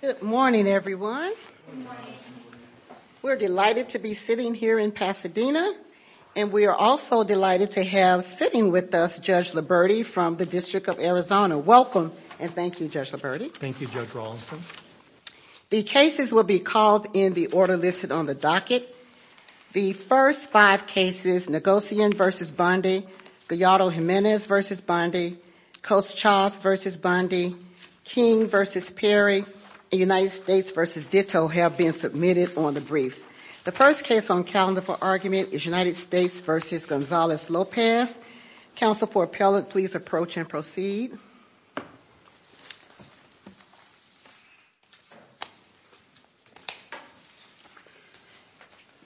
Good morning, everyone. We're delighted to be sitting here in Pasadena, and we are also delighted to have sitting with us Judge Liberti from the District of Arizona. Welcome, and thank you, Judge Liberti. Thank you, Judge Rawlinson. The cases will be called in the order listed on the docket. The first five cases, Negocian v. Bondi, Gallardo-Jimenez v. Bondi, Coates-Charles v. Bondi, King v. Perry, and United States v. Ditto have been submitted on the briefs. The first case on calendar for argument is United States v. Gonzalez-Lopez. Counsel for appellant, please approach and proceed.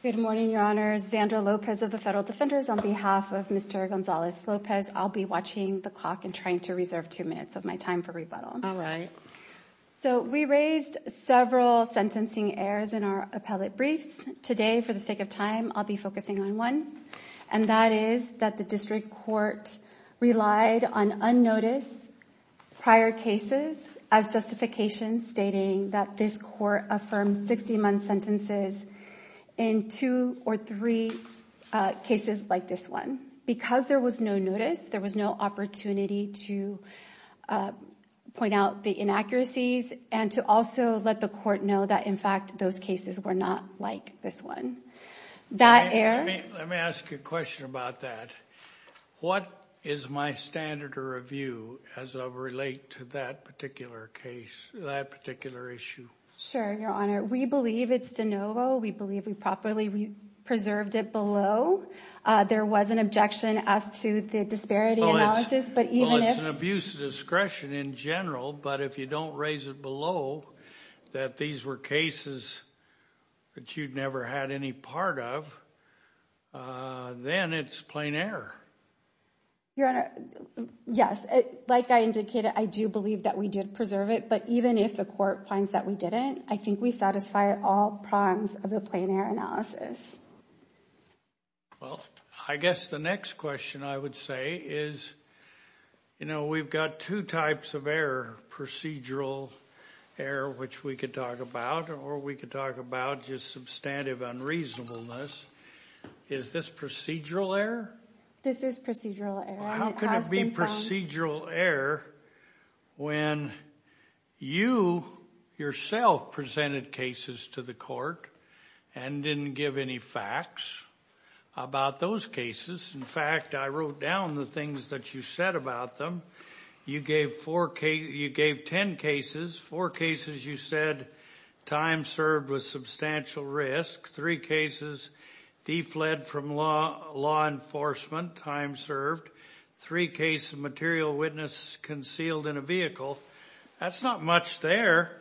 Good morning, Your Honors. Xandra Lopez of the Federal Defenders. On behalf of Mr. Gonzalez-Lopez, I'll be watching the clock and trying to reserve two minutes of my time for rebuttal. So we raised several sentencing errors in our appellate briefs. Today, for the sake of time, I'll be focusing on one, and that is that the district court relied on unnoticed prior cases as justification, stating that this court affirmed 60-month sentences in two or three cases like this one. Because there was no notice, there was no opportunity to point out the inaccuracies and to also let the court know that, in fact, those cases were not like this one. That error... Let me ask you a question about that. What is my standard of review as I relate to that particular case, that particular issue? Sure, Your Honor. We believe it's de novo. We believe we properly preserved it below. There was an objection as to the disparity analysis, but even if... Well, it's an abuse of discretion in general, but if you don't raise it below that these were cases that you'd never had any part of, then it's plain error. Your Honor, yes. Like I indicated, I do believe that we did preserve it, but even if the court finds that we didn't, I think we satisfy all prongs of the misdemeanor analysis. Well, I guess the next question I would say is we've got two types of error, procedural error, which we can talk about, or we can talk about just substantive unreasonableness. Is this procedural error? This is procedural error. How can it be procedural error when you yourself presented cases to the court and didn't give any facts about those cases? In fact, I wrote down the things that you said about them. You gave ten cases. Four cases you said time served was substantial risk. Three cases defled from law enforcement, time served. Three cases of material witness concealed in a vehicle. That's not much there.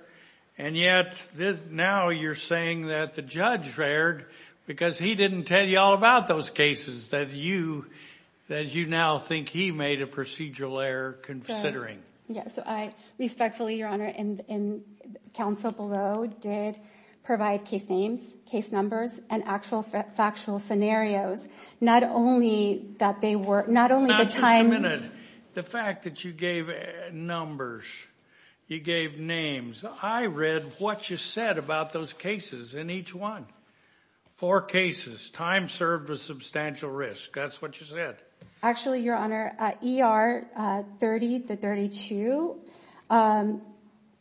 And yet, now you're saying that the judge erred because he didn't tell you all about those cases that you now think he made a procedural error considering. Yes. Respectfully, Your Honor, counsel below did provide case names, case numbers, and actual factual scenarios. Not only that they were, not only the time... The fact that you gave numbers, you gave names. I read what you said about those cases in each one. Four cases, time served was substantial risk. That's what you said. Actually, Your Honor, ER 30-32,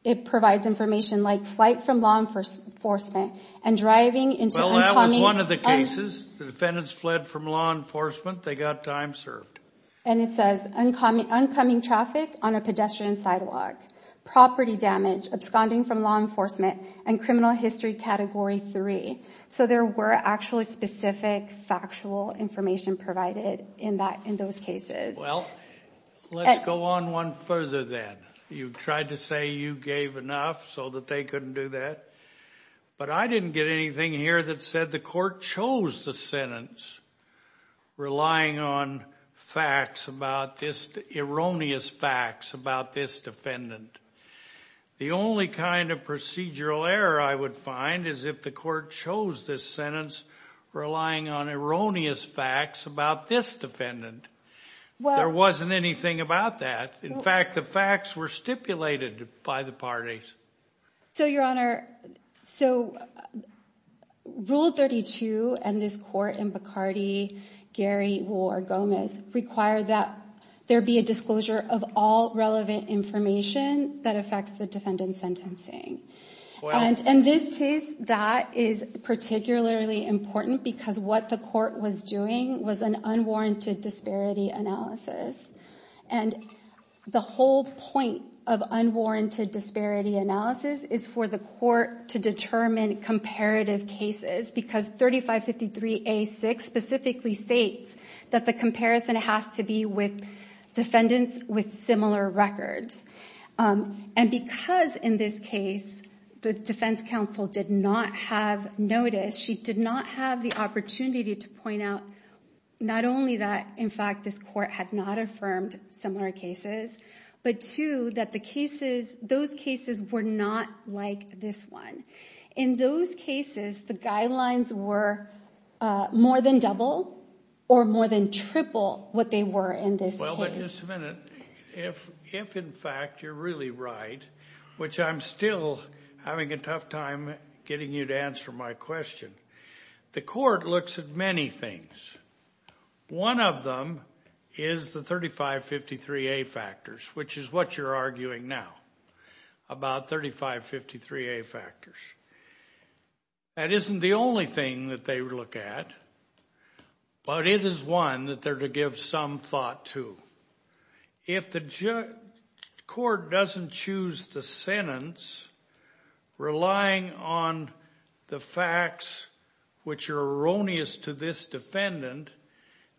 it provides information like flight from law enforcement and driving into... Well, that was one of the cases. The defendants fled from law enforcement. They got time served. And it says, uncoming traffic on a pedestrian sidewalk, property damage, absconding from law enforcement, and criminal history category three. So there were actually specific factual information provided in those cases. Well, let's go on one further then. You tried to say you gave enough so that they couldn't do that. But I didn't get anything here that said the court chose the sentence relying on facts about this, erroneous facts about this defendant. The only kind of procedural error I would find is if the court chose this sentence relying on erroneous facts about this defendant. There wasn't anything about that. In fact, the facts were stipulated by the parties. So, Your Honor, so... Rule 32 and this court in Bacardi, Gary, War, Gomez require that there be a disclosure of all relevant information that affects the defendant's sentencing. And in this case, that is particularly important because what the court was doing was an unwarranted disparity analysis. And the whole point of unwarranted disparity analysis is for the court to determine comparative cases because 3553A6 specifically states that the comparison has to be with defendants with similar records. And because in this case, the defense counsel did not have notice, she did not have the opportunity to point out not only that, in fact, this court had not affirmed similar cases, but two, that those cases were not like this one. In those cases, the guidelines were more than double or more than triple what they were in this case. Well, but just a minute. If, in fact, you're really right, which I'm still having a tough time getting you to answer my question, the court looks at many things. One of them is the 3553A factors, which is what you're arguing now about 3553A factors. That isn't the only thing that they look at, but it is one that they're to give some thought to. If the court doesn't choose the sentence relying on the facts which are erroneous to this defendant,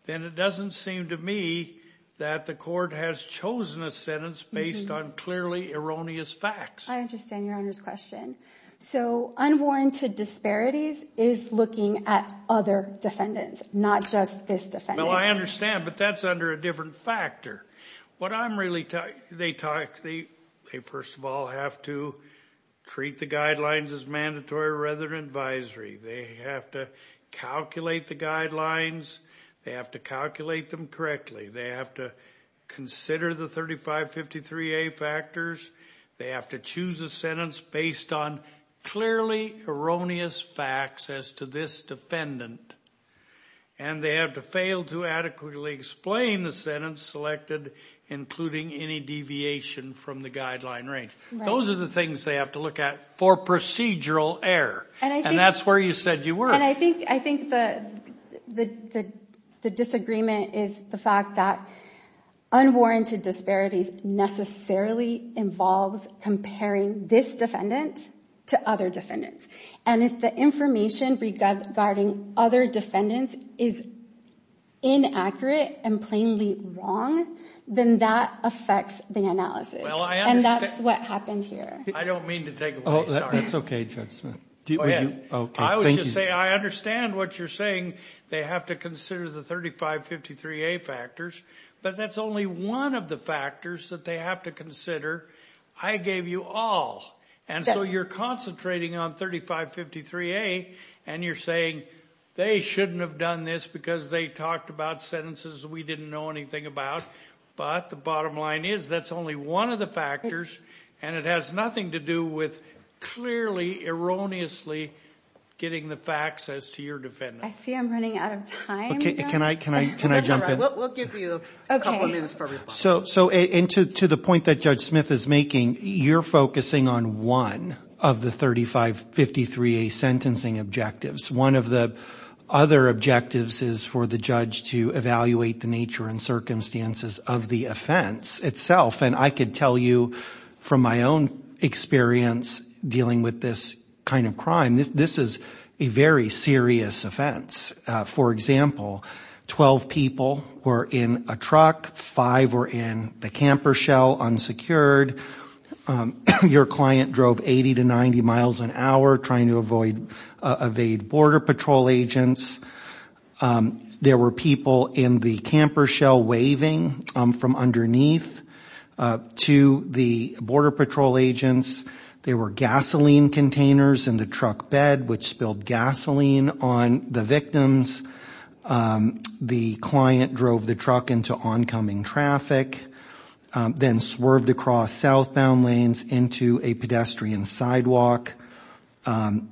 then it doesn't seem to me that the court has chosen a sentence based on clearly erroneous facts. I understand Your Honour's question. So unwarranted disparities is looking at other defendants, not just this defendant. Well, I understand, but that's under a different factor. What I'm really... They talk... They, first of all, have to treat the guidelines as mandatory rather than advisory. They have to calculate the guidelines. They have to calculate them correctly. They have to consider the 3553A factors. They have to choose a sentence based on clearly erroneous facts as to this defendant. And they have to fail to adequately explain the sentence selected, including any deviation from the guideline range. Those are the things they have to look at for procedural error. And that's where you said you were. And I think the disagreement is the fact that unwarranted disparities necessarily involves comparing this defendant to other defendants. And if the information regarding other defendants is inaccurate and plainly wrong, then that affects the analysis. And that's what happened here. I don't mean to take away... That's OK, Judge Smith. Oh, yeah. I was just saying, I understand what you're saying. They have to consider the 3553A factors. But that's only one of the factors that they have to consider. I gave you all. And so you're concentrating on 3553A and you're saying they shouldn't have done this because they talked about sentences we didn't know anything about. But the bottom line is that's only one of the factors. And it has nothing to do with clearly erroneously getting the facts as to your defendant. I see I'm running out of time. Can I can I can I jump in? We'll give you a couple of minutes for reply. So so into to the point that Judge Smith is making, you're focusing on one of the 3553A sentencing objectives. One of the other objectives is for the judge to evaluate the nature and circumstances of the offense itself. And I could tell you from my own experience dealing with this kind of crime, this is a very serious offense. For example, 12 people were in a truck, five were in the camper shell unsecured. Your client drove 80 to 90 miles an hour trying to avoid evade Border Patrol agents. There were people in the camper shell waving from underneath to the Border Patrol agents. There were gasoline containers in the truck bed, which spilled gasoline on the victims. The client drove the truck into oncoming traffic, then swerved across southbound lanes into a pedestrian sidewalk.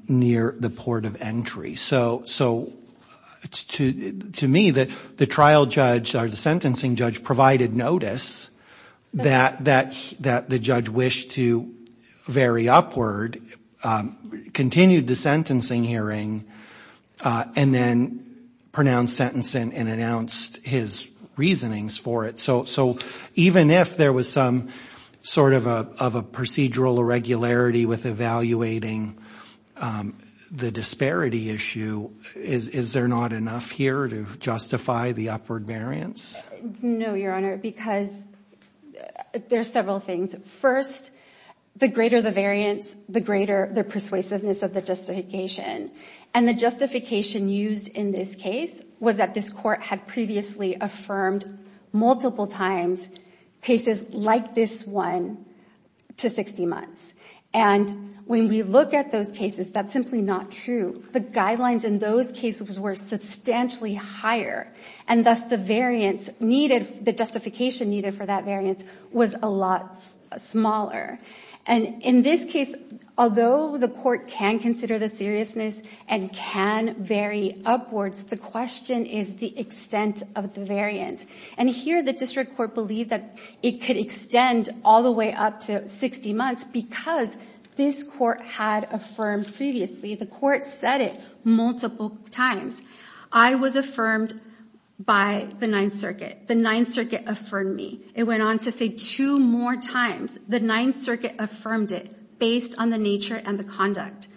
Near the port of entry. So so it's to to me that the trial judge or the sentencing judge provided notice that that that the judge wished to vary upward, continued the sentencing hearing and then pronounced sentence and announced his reasonings for it. So so even if there was some sort of a of a procedural irregularity with evaluating the disparity issue, is there not enough here to justify the upward variance? No, Your Honor, because there are several things. First, the greater the variance, the greater the persuasiveness of the justification and the justification used in this case was that this court had previously affirmed multiple times cases like this one to 60 months. And when we look at those cases, that's simply not true. The guidelines in those cases were substantially higher. And that's the variance needed. The justification needed for that variance was a lot smaller. And in this case, although the court can consider the seriousness and can vary upwards, the question is the extent of the variance. And here the district court believed that it could extend all the way up to 60 months because this court had affirmed previously. The court said it multiple times. I was affirmed by the Ninth Circuit. The Ninth Circuit affirmed me. It went on to say two more times. The Ninth Circuit affirmed it based on the nature and the conduct.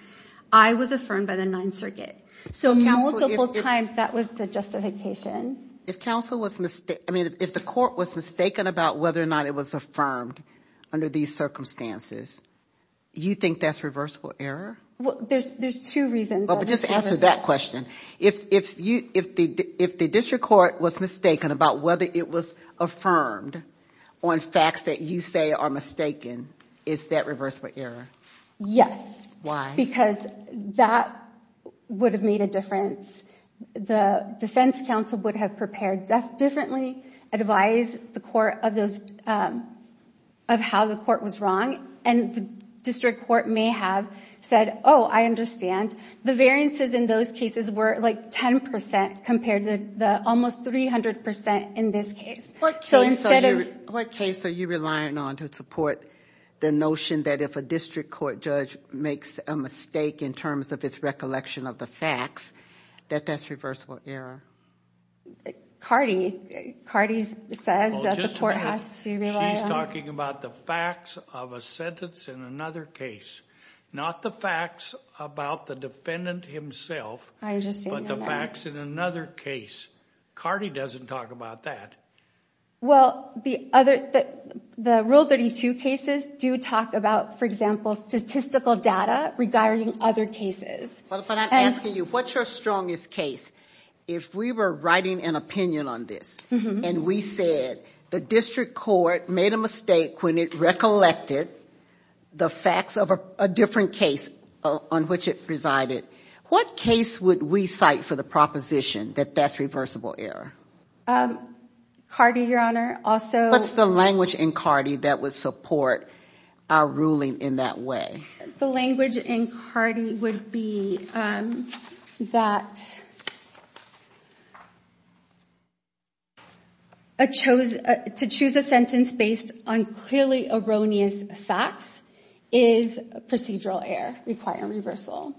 I was affirmed by the Ninth Circuit. So multiple times, that was the justification. If counsel was I mean, if the court was mistaken about whether or not it was affirmed under these circumstances, you think that's reversible error? Well, there's there's two reasons. Well, just answer that question. If you if the if the district court was mistaken about whether it was affirmed on facts that you say are mistaken, is that reversible error? Yes. Why? Because that would have made a difference. The defense counsel would have prepared differently, advise the court of those of how the court was wrong. And the district court may have said, oh, I understand. The variances in those cases were like 10 percent compared to the almost 300 percent in this case. So instead of what case are you relying on to support the notion that if a district court judge makes a mistake in terms of its recollection of the facts, that that's reversible error? Cardi, Cardi says that the court has to rely on. She's talking about the facts of a sentence in another case, not the facts about the defendant himself. I just see the facts in another case. Cardi doesn't talk about that. Well, the other the rule 32 cases do talk about, for example, statistical data regarding other cases. But I'm asking you, what's your strongest case? If we were writing an opinion on this and we said the district court made a mistake when it recollected the facts of a different case on which it presided, what case would we cite for the proposition that that's reversible error? Cardi, your honor. Also, what's the language in Cardi that would support our ruling in that way? The language in Cardi would be that. I chose to choose a sentence based on clearly erroneous facts is procedural error requiring reversal.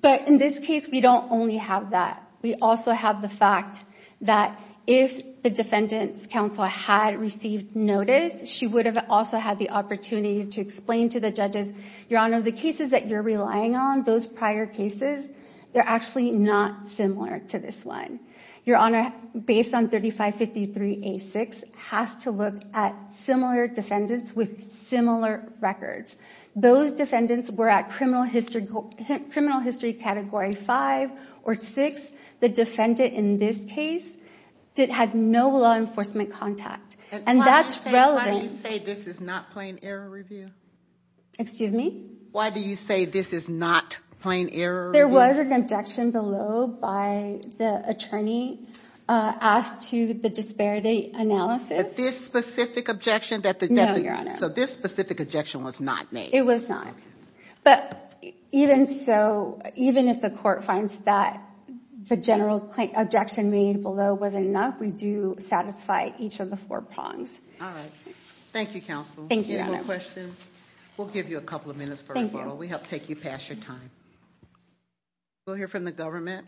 But in this case, we don't only have that. We also have the fact that if the defendant's counsel had received notice, she would have also had the opportunity to explain to the judges, Your honor, the cases that you're relying on, those prior cases, they're actually not similar to this one. Your honor, based on 3553 A6, has to look at similar defendants with similar records. Those defendants were at criminal history, criminal history category five or six. The defendant in this case had no law enforcement contact. And that's relevant. How do you say this is not plain error review? Excuse me. Why do you say this is not plain error? There was an objection below by the attorney asked to the disparity analysis. This specific objection that the. No, your honor. So this specific objection was not made. It was not. But even so, even if the court finds that the general objection made below wasn't enough, we do satisfy each of the four prongs. All right. Thank you, counsel. Thank you, your honor. Questions? We'll give you a couple of minutes. Thank you. We'll help take you past your time. We'll hear from the government.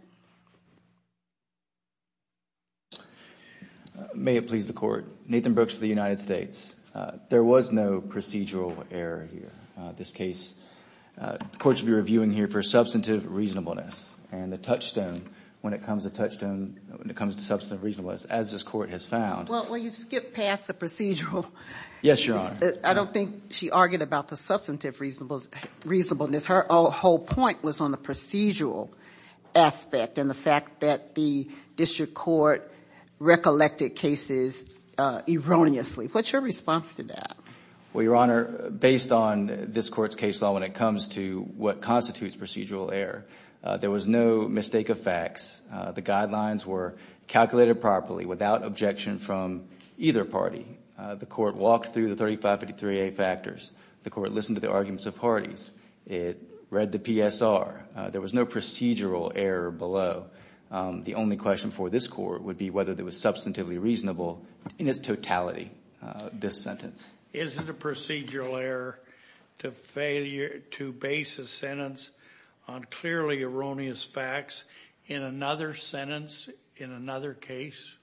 May it please the court. Nathan Brooks of the United States. There was no procedural error here. This case, the court should be reviewing here for substantive reasonableness and the touchstone when it comes to touchstone, when it comes to substantive reasonableness, as this court has found. Well, you skipped past the procedural. Yes, your honor. I don't think she argued about the substantive reasonableness. Her whole point was on the procedural aspect and the fact that the district court recollected cases erroneously. What's your response to that? Well, your honor, based on this court's case law, when it comes to what constitutes procedural error, there was no mistake of facts. The guidelines were calculated properly without objection from either party. The court walked through the 3553A factors. The court listened to the arguments of parties. It read the PSR. There was no procedural error below. The only question for this court would be whether it was substantively reasonable in its totality, this sentence. Is it a procedural error to base a sentence on clearly erroneous facts in another sentence, in another case?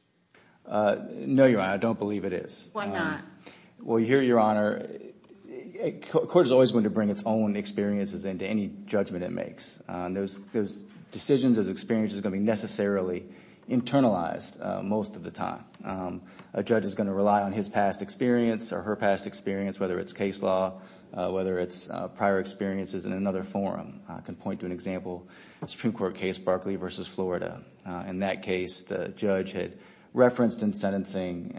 No, your honor. I don't believe it is. Why not? Well, here, your honor, a court is always going to bring its own experiences into any judgment it makes. Those decisions, those experiences are going to be necessarily internalized most of the time. A judge is going to rely on his past experience or her past experience, whether it's case law, whether it's prior experiences in another forum. I can point to an example of a Supreme Court case, Berkeley versus Florida. In that case, the judge had referenced in sentencing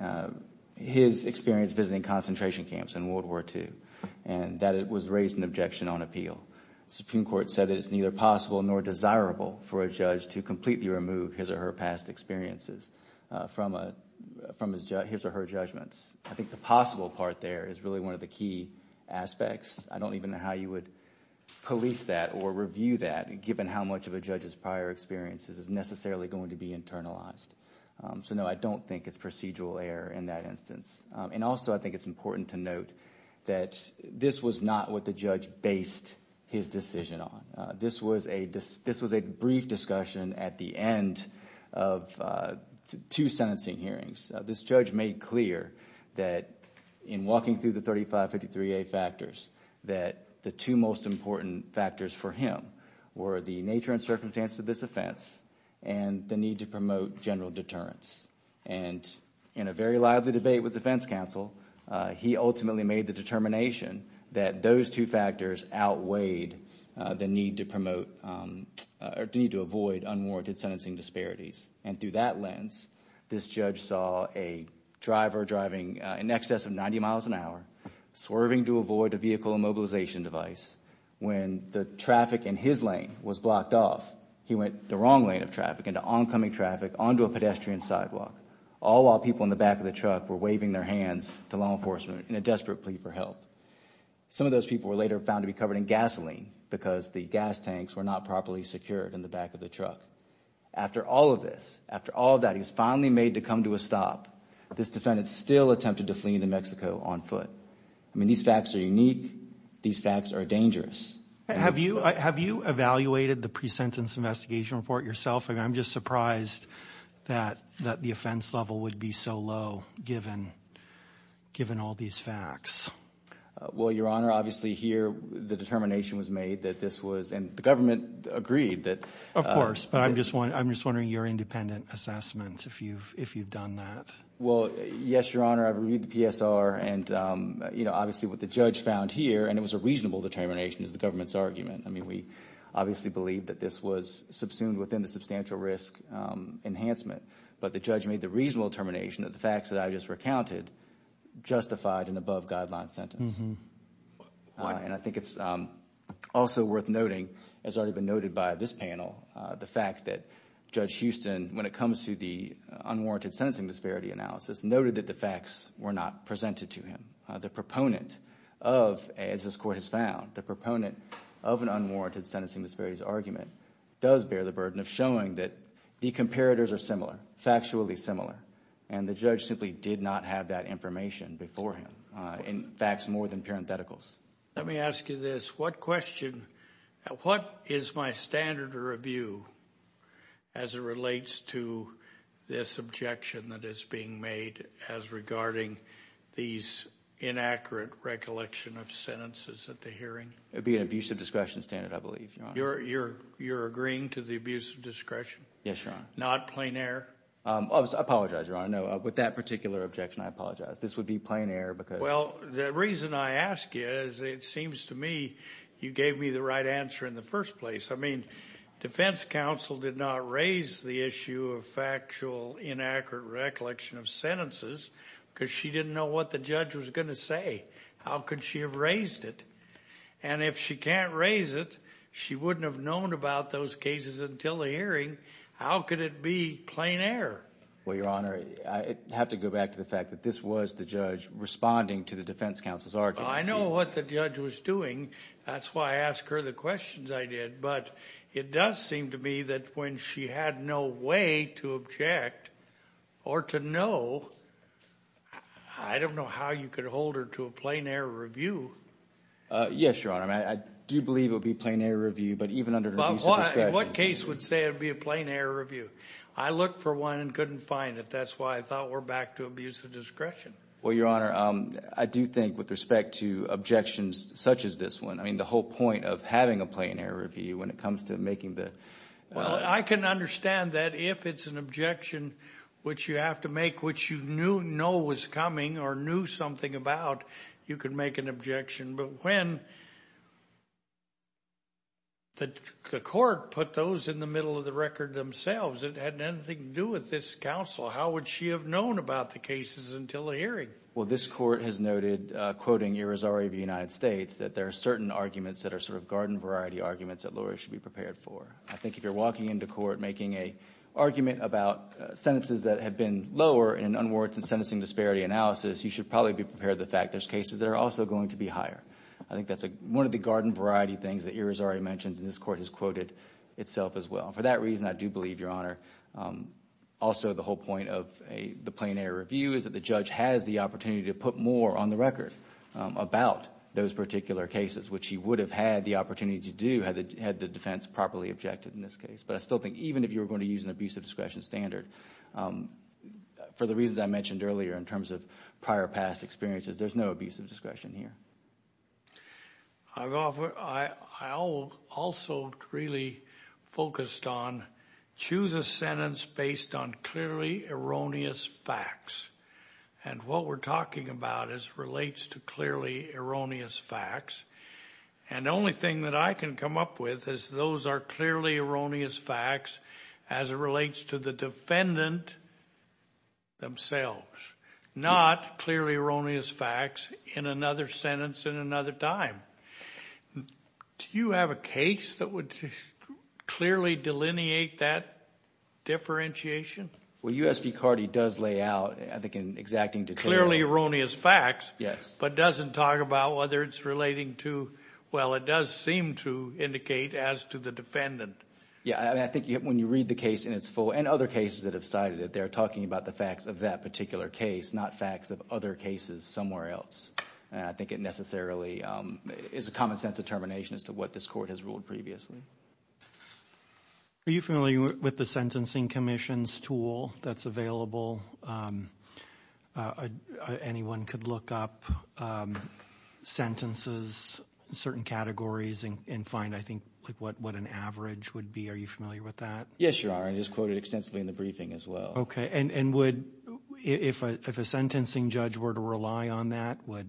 his experience visiting concentration camps in World War II and that it was raised in objection on appeal. Supreme Court said that it's neither possible nor desirable for a judge to completely remove his or her past experiences from his or her judgments. I think the possible part there is really one of the key aspects. I don't even know how you would police that or review that, given how much of a judge's prior experiences is necessarily going to be internalized. So, no, I don't think it's procedural error in that instance. And also, I think it's important to note that this was not what the judge based his decision on. This was a brief discussion at the end of two sentencing hearings. This judge made clear that in walking through the 3553A factors, that the two most important factors for him were the nature and circumstance of this offense and the need to promote general deterrence. And in a very lively debate with defense counsel, he ultimately made the determination that those two factors outweighed the need to promote or the need to avoid unwarranted sentencing disparities. And through that lens, this judge saw a driver driving in excess of 90 miles an hour, swerving to avoid a vehicle immobilization device. When the traffic in his lane was blocked off, he went the wrong lane of traffic into oncoming traffic onto a pedestrian sidewalk, all while people in the back of the truck were waving their hands to law enforcement in a desperate plea for help. Some of those people were later found to be covered in gasoline because the gas tanks were not properly secured in the back of the truck. After all of this, after all of that, he was finally made to come to a stop. This defendant still attempted to flee to Mexico on foot. I mean, these facts are unique. These facts are dangerous. Have you have you evaluated the pre-sentence investigation report yourself? I'm just surprised that that the offense level would be so low given given all these facts. Well, Your Honor, obviously here the determination was made that this was and the government agreed that. Of course. But I'm just one. I'm just wondering your independent assessment if you've if you've done that. Well, yes, Your Honor. I read the PSR and, you know, obviously what the judge found here and it was a reasonable determination is the government's argument. I mean, we obviously believe that this was subsumed within the substantial risk enhancement. But the judge made the reasonable determination that the facts that I just recounted justified an above guideline sentence. And I think it's also worth noting, as already been noted by this panel, the fact that Judge Houston, when it comes to the unwarranted sentencing disparity analysis, noted that the facts were not presented to him. The proponent of, as this court has found, the proponent of an unwarranted sentencing disparities argument does bear the burden of showing that the comparators are similar, factually similar. And the judge simply did not have that information before him in facts more than parentheticals. Let me ask you this. What question, what is my standard of review as it relates to this objection that is being made as regarding these inaccurate recollection of sentences at the hearing? It would be an abuse of discretion standard, I believe. You're agreeing to the abuse of discretion? Yes, Your Honor. Not plain error? I apologize, Your Honor. No, with that particular objection, I apologize. This would be plain error because... Well, the reason I ask you is it seems to me you gave me the right answer in the first place. I mean, defense counsel did not raise the issue of factual inaccurate recollection of sentences because she didn't know what the judge was going to say. How could she have raised it? And if she can't raise it, she wouldn't have known about those cases until the hearing. How could it be plain error? Well, Your Honor, I have to go back to the fact that this was the judge responding to the defense counsel's argument. I know what the judge was doing. That's why I ask her the questions I did. But it does seem to me that when she had no way to object or to know, I don't know how you could hold her to a plain error review. Yes, Your Honor. I do believe it would be a plain error review, but even under abuse of discretion... What case would say it would be a plain error review? I looked for one and couldn't find it. That's why I thought we're back to abuse of discretion. Well, Your Honor, I do think with respect to objections such as this one, I mean, the whole point of having a plain error review when it comes to making the... Well, I can understand that if it's an objection which you have to make, which you knew was coming or knew something about, you can make an objection. But when the court put those in the middle of the record themselves, it hadn't anything to do with this counsel. How would she have known about the cases until the hearing? Well, this court has noted, quoting Irizarry of the United States, that there are certain arguments that are sort of garden variety arguments that lawyers should be prepared for. I think if you're walking into court making a argument about sentences that have been lower in unwarranted sentencing disparity analysis, you should probably be prepared the fact there's cases that are also going to be higher. I think that's one of the garden variety things that Irizarry mentioned and this court has quoted itself as well. For that reason, I do believe, Your Honor, also the whole point of the plain error review is that the judge has the opportunity to put more on the record about those particular cases, which he would have had the opportunity to do had the defense properly objected in this case. But I still think even if you were going to use an abusive discretion standard, for the reasons I mentioned earlier in terms of prior past experiences, there's no abusive discretion here. I also really focused on choose a sentence based on clearly erroneous facts. And what we're talking about is relates to clearly erroneous facts. And the only thing that I can come up with is those are clearly erroneous facts as it relates to the defendant themselves, not clearly erroneous facts in another sentence in another time. Do you have a case that would clearly delineate that differentiation? Well, U.S. v. Carty does lay out, I think, in exacting detail. Clearly erroneous facts, but doesn't talk about whether it's relating to, well, it does seem to indicate as to the defendant. Yeah, I think when you read the case in its full, and other cases that have cited it, they are talking about the facts of that particular case, not facts of other cases somewhere else. And I think it necessarily is a common sense determination as to what this Court has ruled previously. Are you familiar with the Sentencing Commission's tool that's available? Anyone could look up sentences, certain categories, and find, I think, what an average would be. Are you familiar with that? Yes, Your Honor, and it's quoted extensively in the briefing as well. Okay, and would, if a sentencing judge were to rely on that, would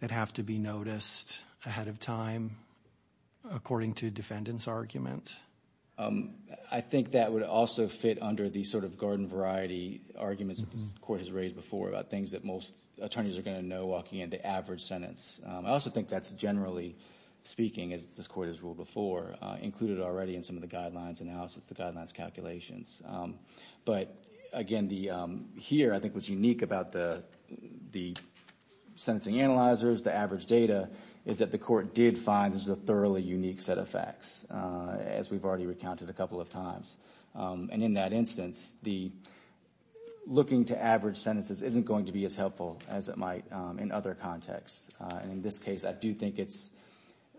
that have to be noticed ahead of time according to a defendant's argument? I think that would also fit under the sort of garden variety arguments that this Court has raised before about things that most attorneys are going to know walking into average sentence. I also think that's generally speaking, as this Court has ruled before, included already in some of the guidelines analysis, the guidelines calculations. But again, here, I think what's unique about the sentencing analyzers, the average data, is that the Court did find this is a thoroughly unique set of facts, as we've already recounted a couple of times. And in that instance, looking to average sentences isn't going to be as helpful as it might in other contexts. And in this case, I do think it's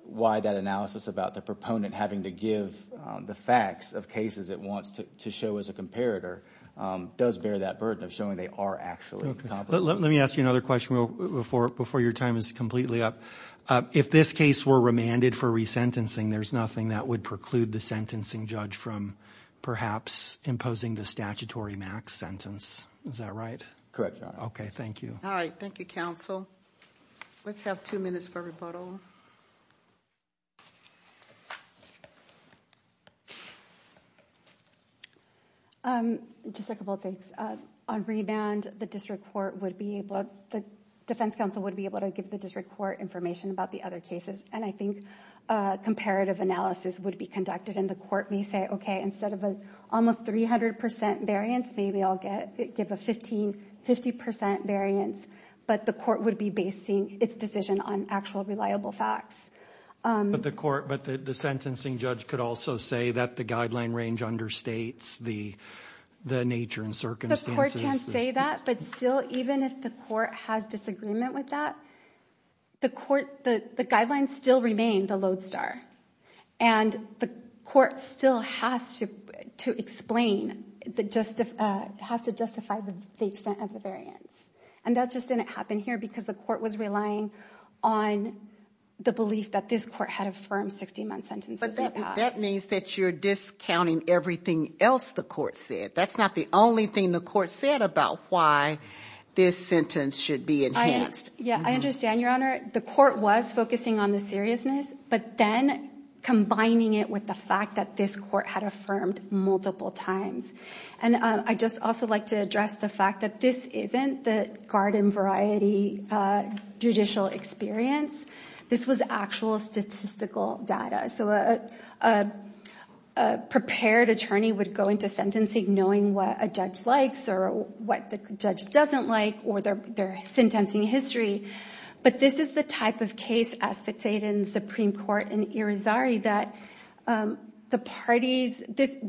why that analysis about the proponent having to give the facts of cases it wants to show as a comparator does bear that burden of showing they are actually comparable. Let me ask you another question before your time is completely up. If this case were remanded for resentencing, there's nothing that would preclude the sentencing judge from perhaps imposing the statutory max sentence. Is that right? Correct, Your Honor. Okay, thank you. All right, thank you, counsel. Let's have two minutes for rebuttal. Just a couple of things. On remand, the defense counsel would be able to give the district court information about the other cases. And I think comparative analysis would be conducted in the court. We say, okay, instead of an almost 300% variance, maybe I'll give a 50% variance. But the court would be basing its decision on actual reliable facts. But the sentencing judge could also say that the guideline range understates the nature and circumstances. The court can say that, but still, even if the court has disagreement with that, the guidelines still remain the lodestar. And the court still has to explain, has to justify the extent of the variance. And that just didn't happen here because the court was relying on the belief that this court had affirmed 60-month sentences. But that means that you're discounting everything else the court said. That's not the only thing the court said about why this sentence should be enhanced. Yeah, I understand, Your Honor. The court was focusing on the seriousness, but then combining it with the fact that this court had affirmed multiple times. And I'd just also like to address the fact that this isn't the judicial experience. This was actual statistical data. So a prepared attorney would go into sentencing knowing what a judge likes or what the judge doesn't like or their sentencing history. But this is the type of case as stated in the Supreme Court in Irizarry that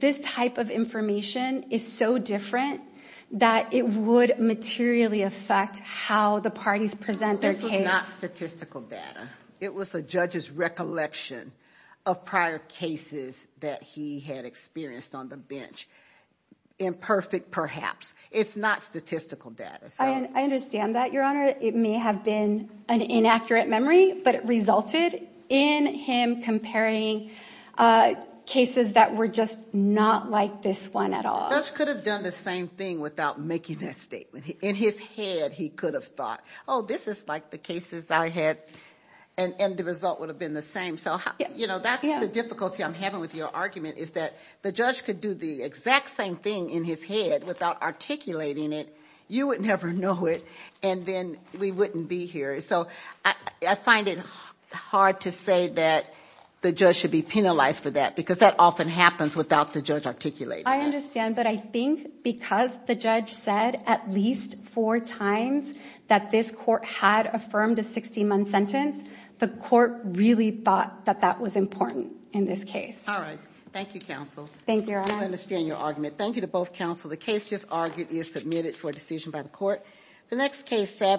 this type of information is so different that it would materially affect how the parties present their case. This was not statistical data. It was the judge's recollection of prior cases that he had experienced on the bench, imperfect perhaps. It's not statistical data. I understand that, Your Honor. It may have been an inaccurate memory, but it resulted in him comparing cases that were just not like this one at all. The judge could have done the same thing without making that statement. In his head, he could have thought, oh, this is like the cases I had and the result would have been the same. So, you know, that's the difficulty I'm having with your argument is that the judge could do the exact same thing in his head without articulating it. You would never know it and then we wouldn't be here. So I find it hard to say that the judge should be penalized for that because that often happens without the judge articulating it. I understand, but I think because the judge said at least four times that this court had affirmed a 60-month sentence, the court really thought that that was important in this case. All right. Thank you, counsel. Thank you, Your Honor. I understand your argument. Thank you to both counsel. The case just argued is submitted for decision by the court.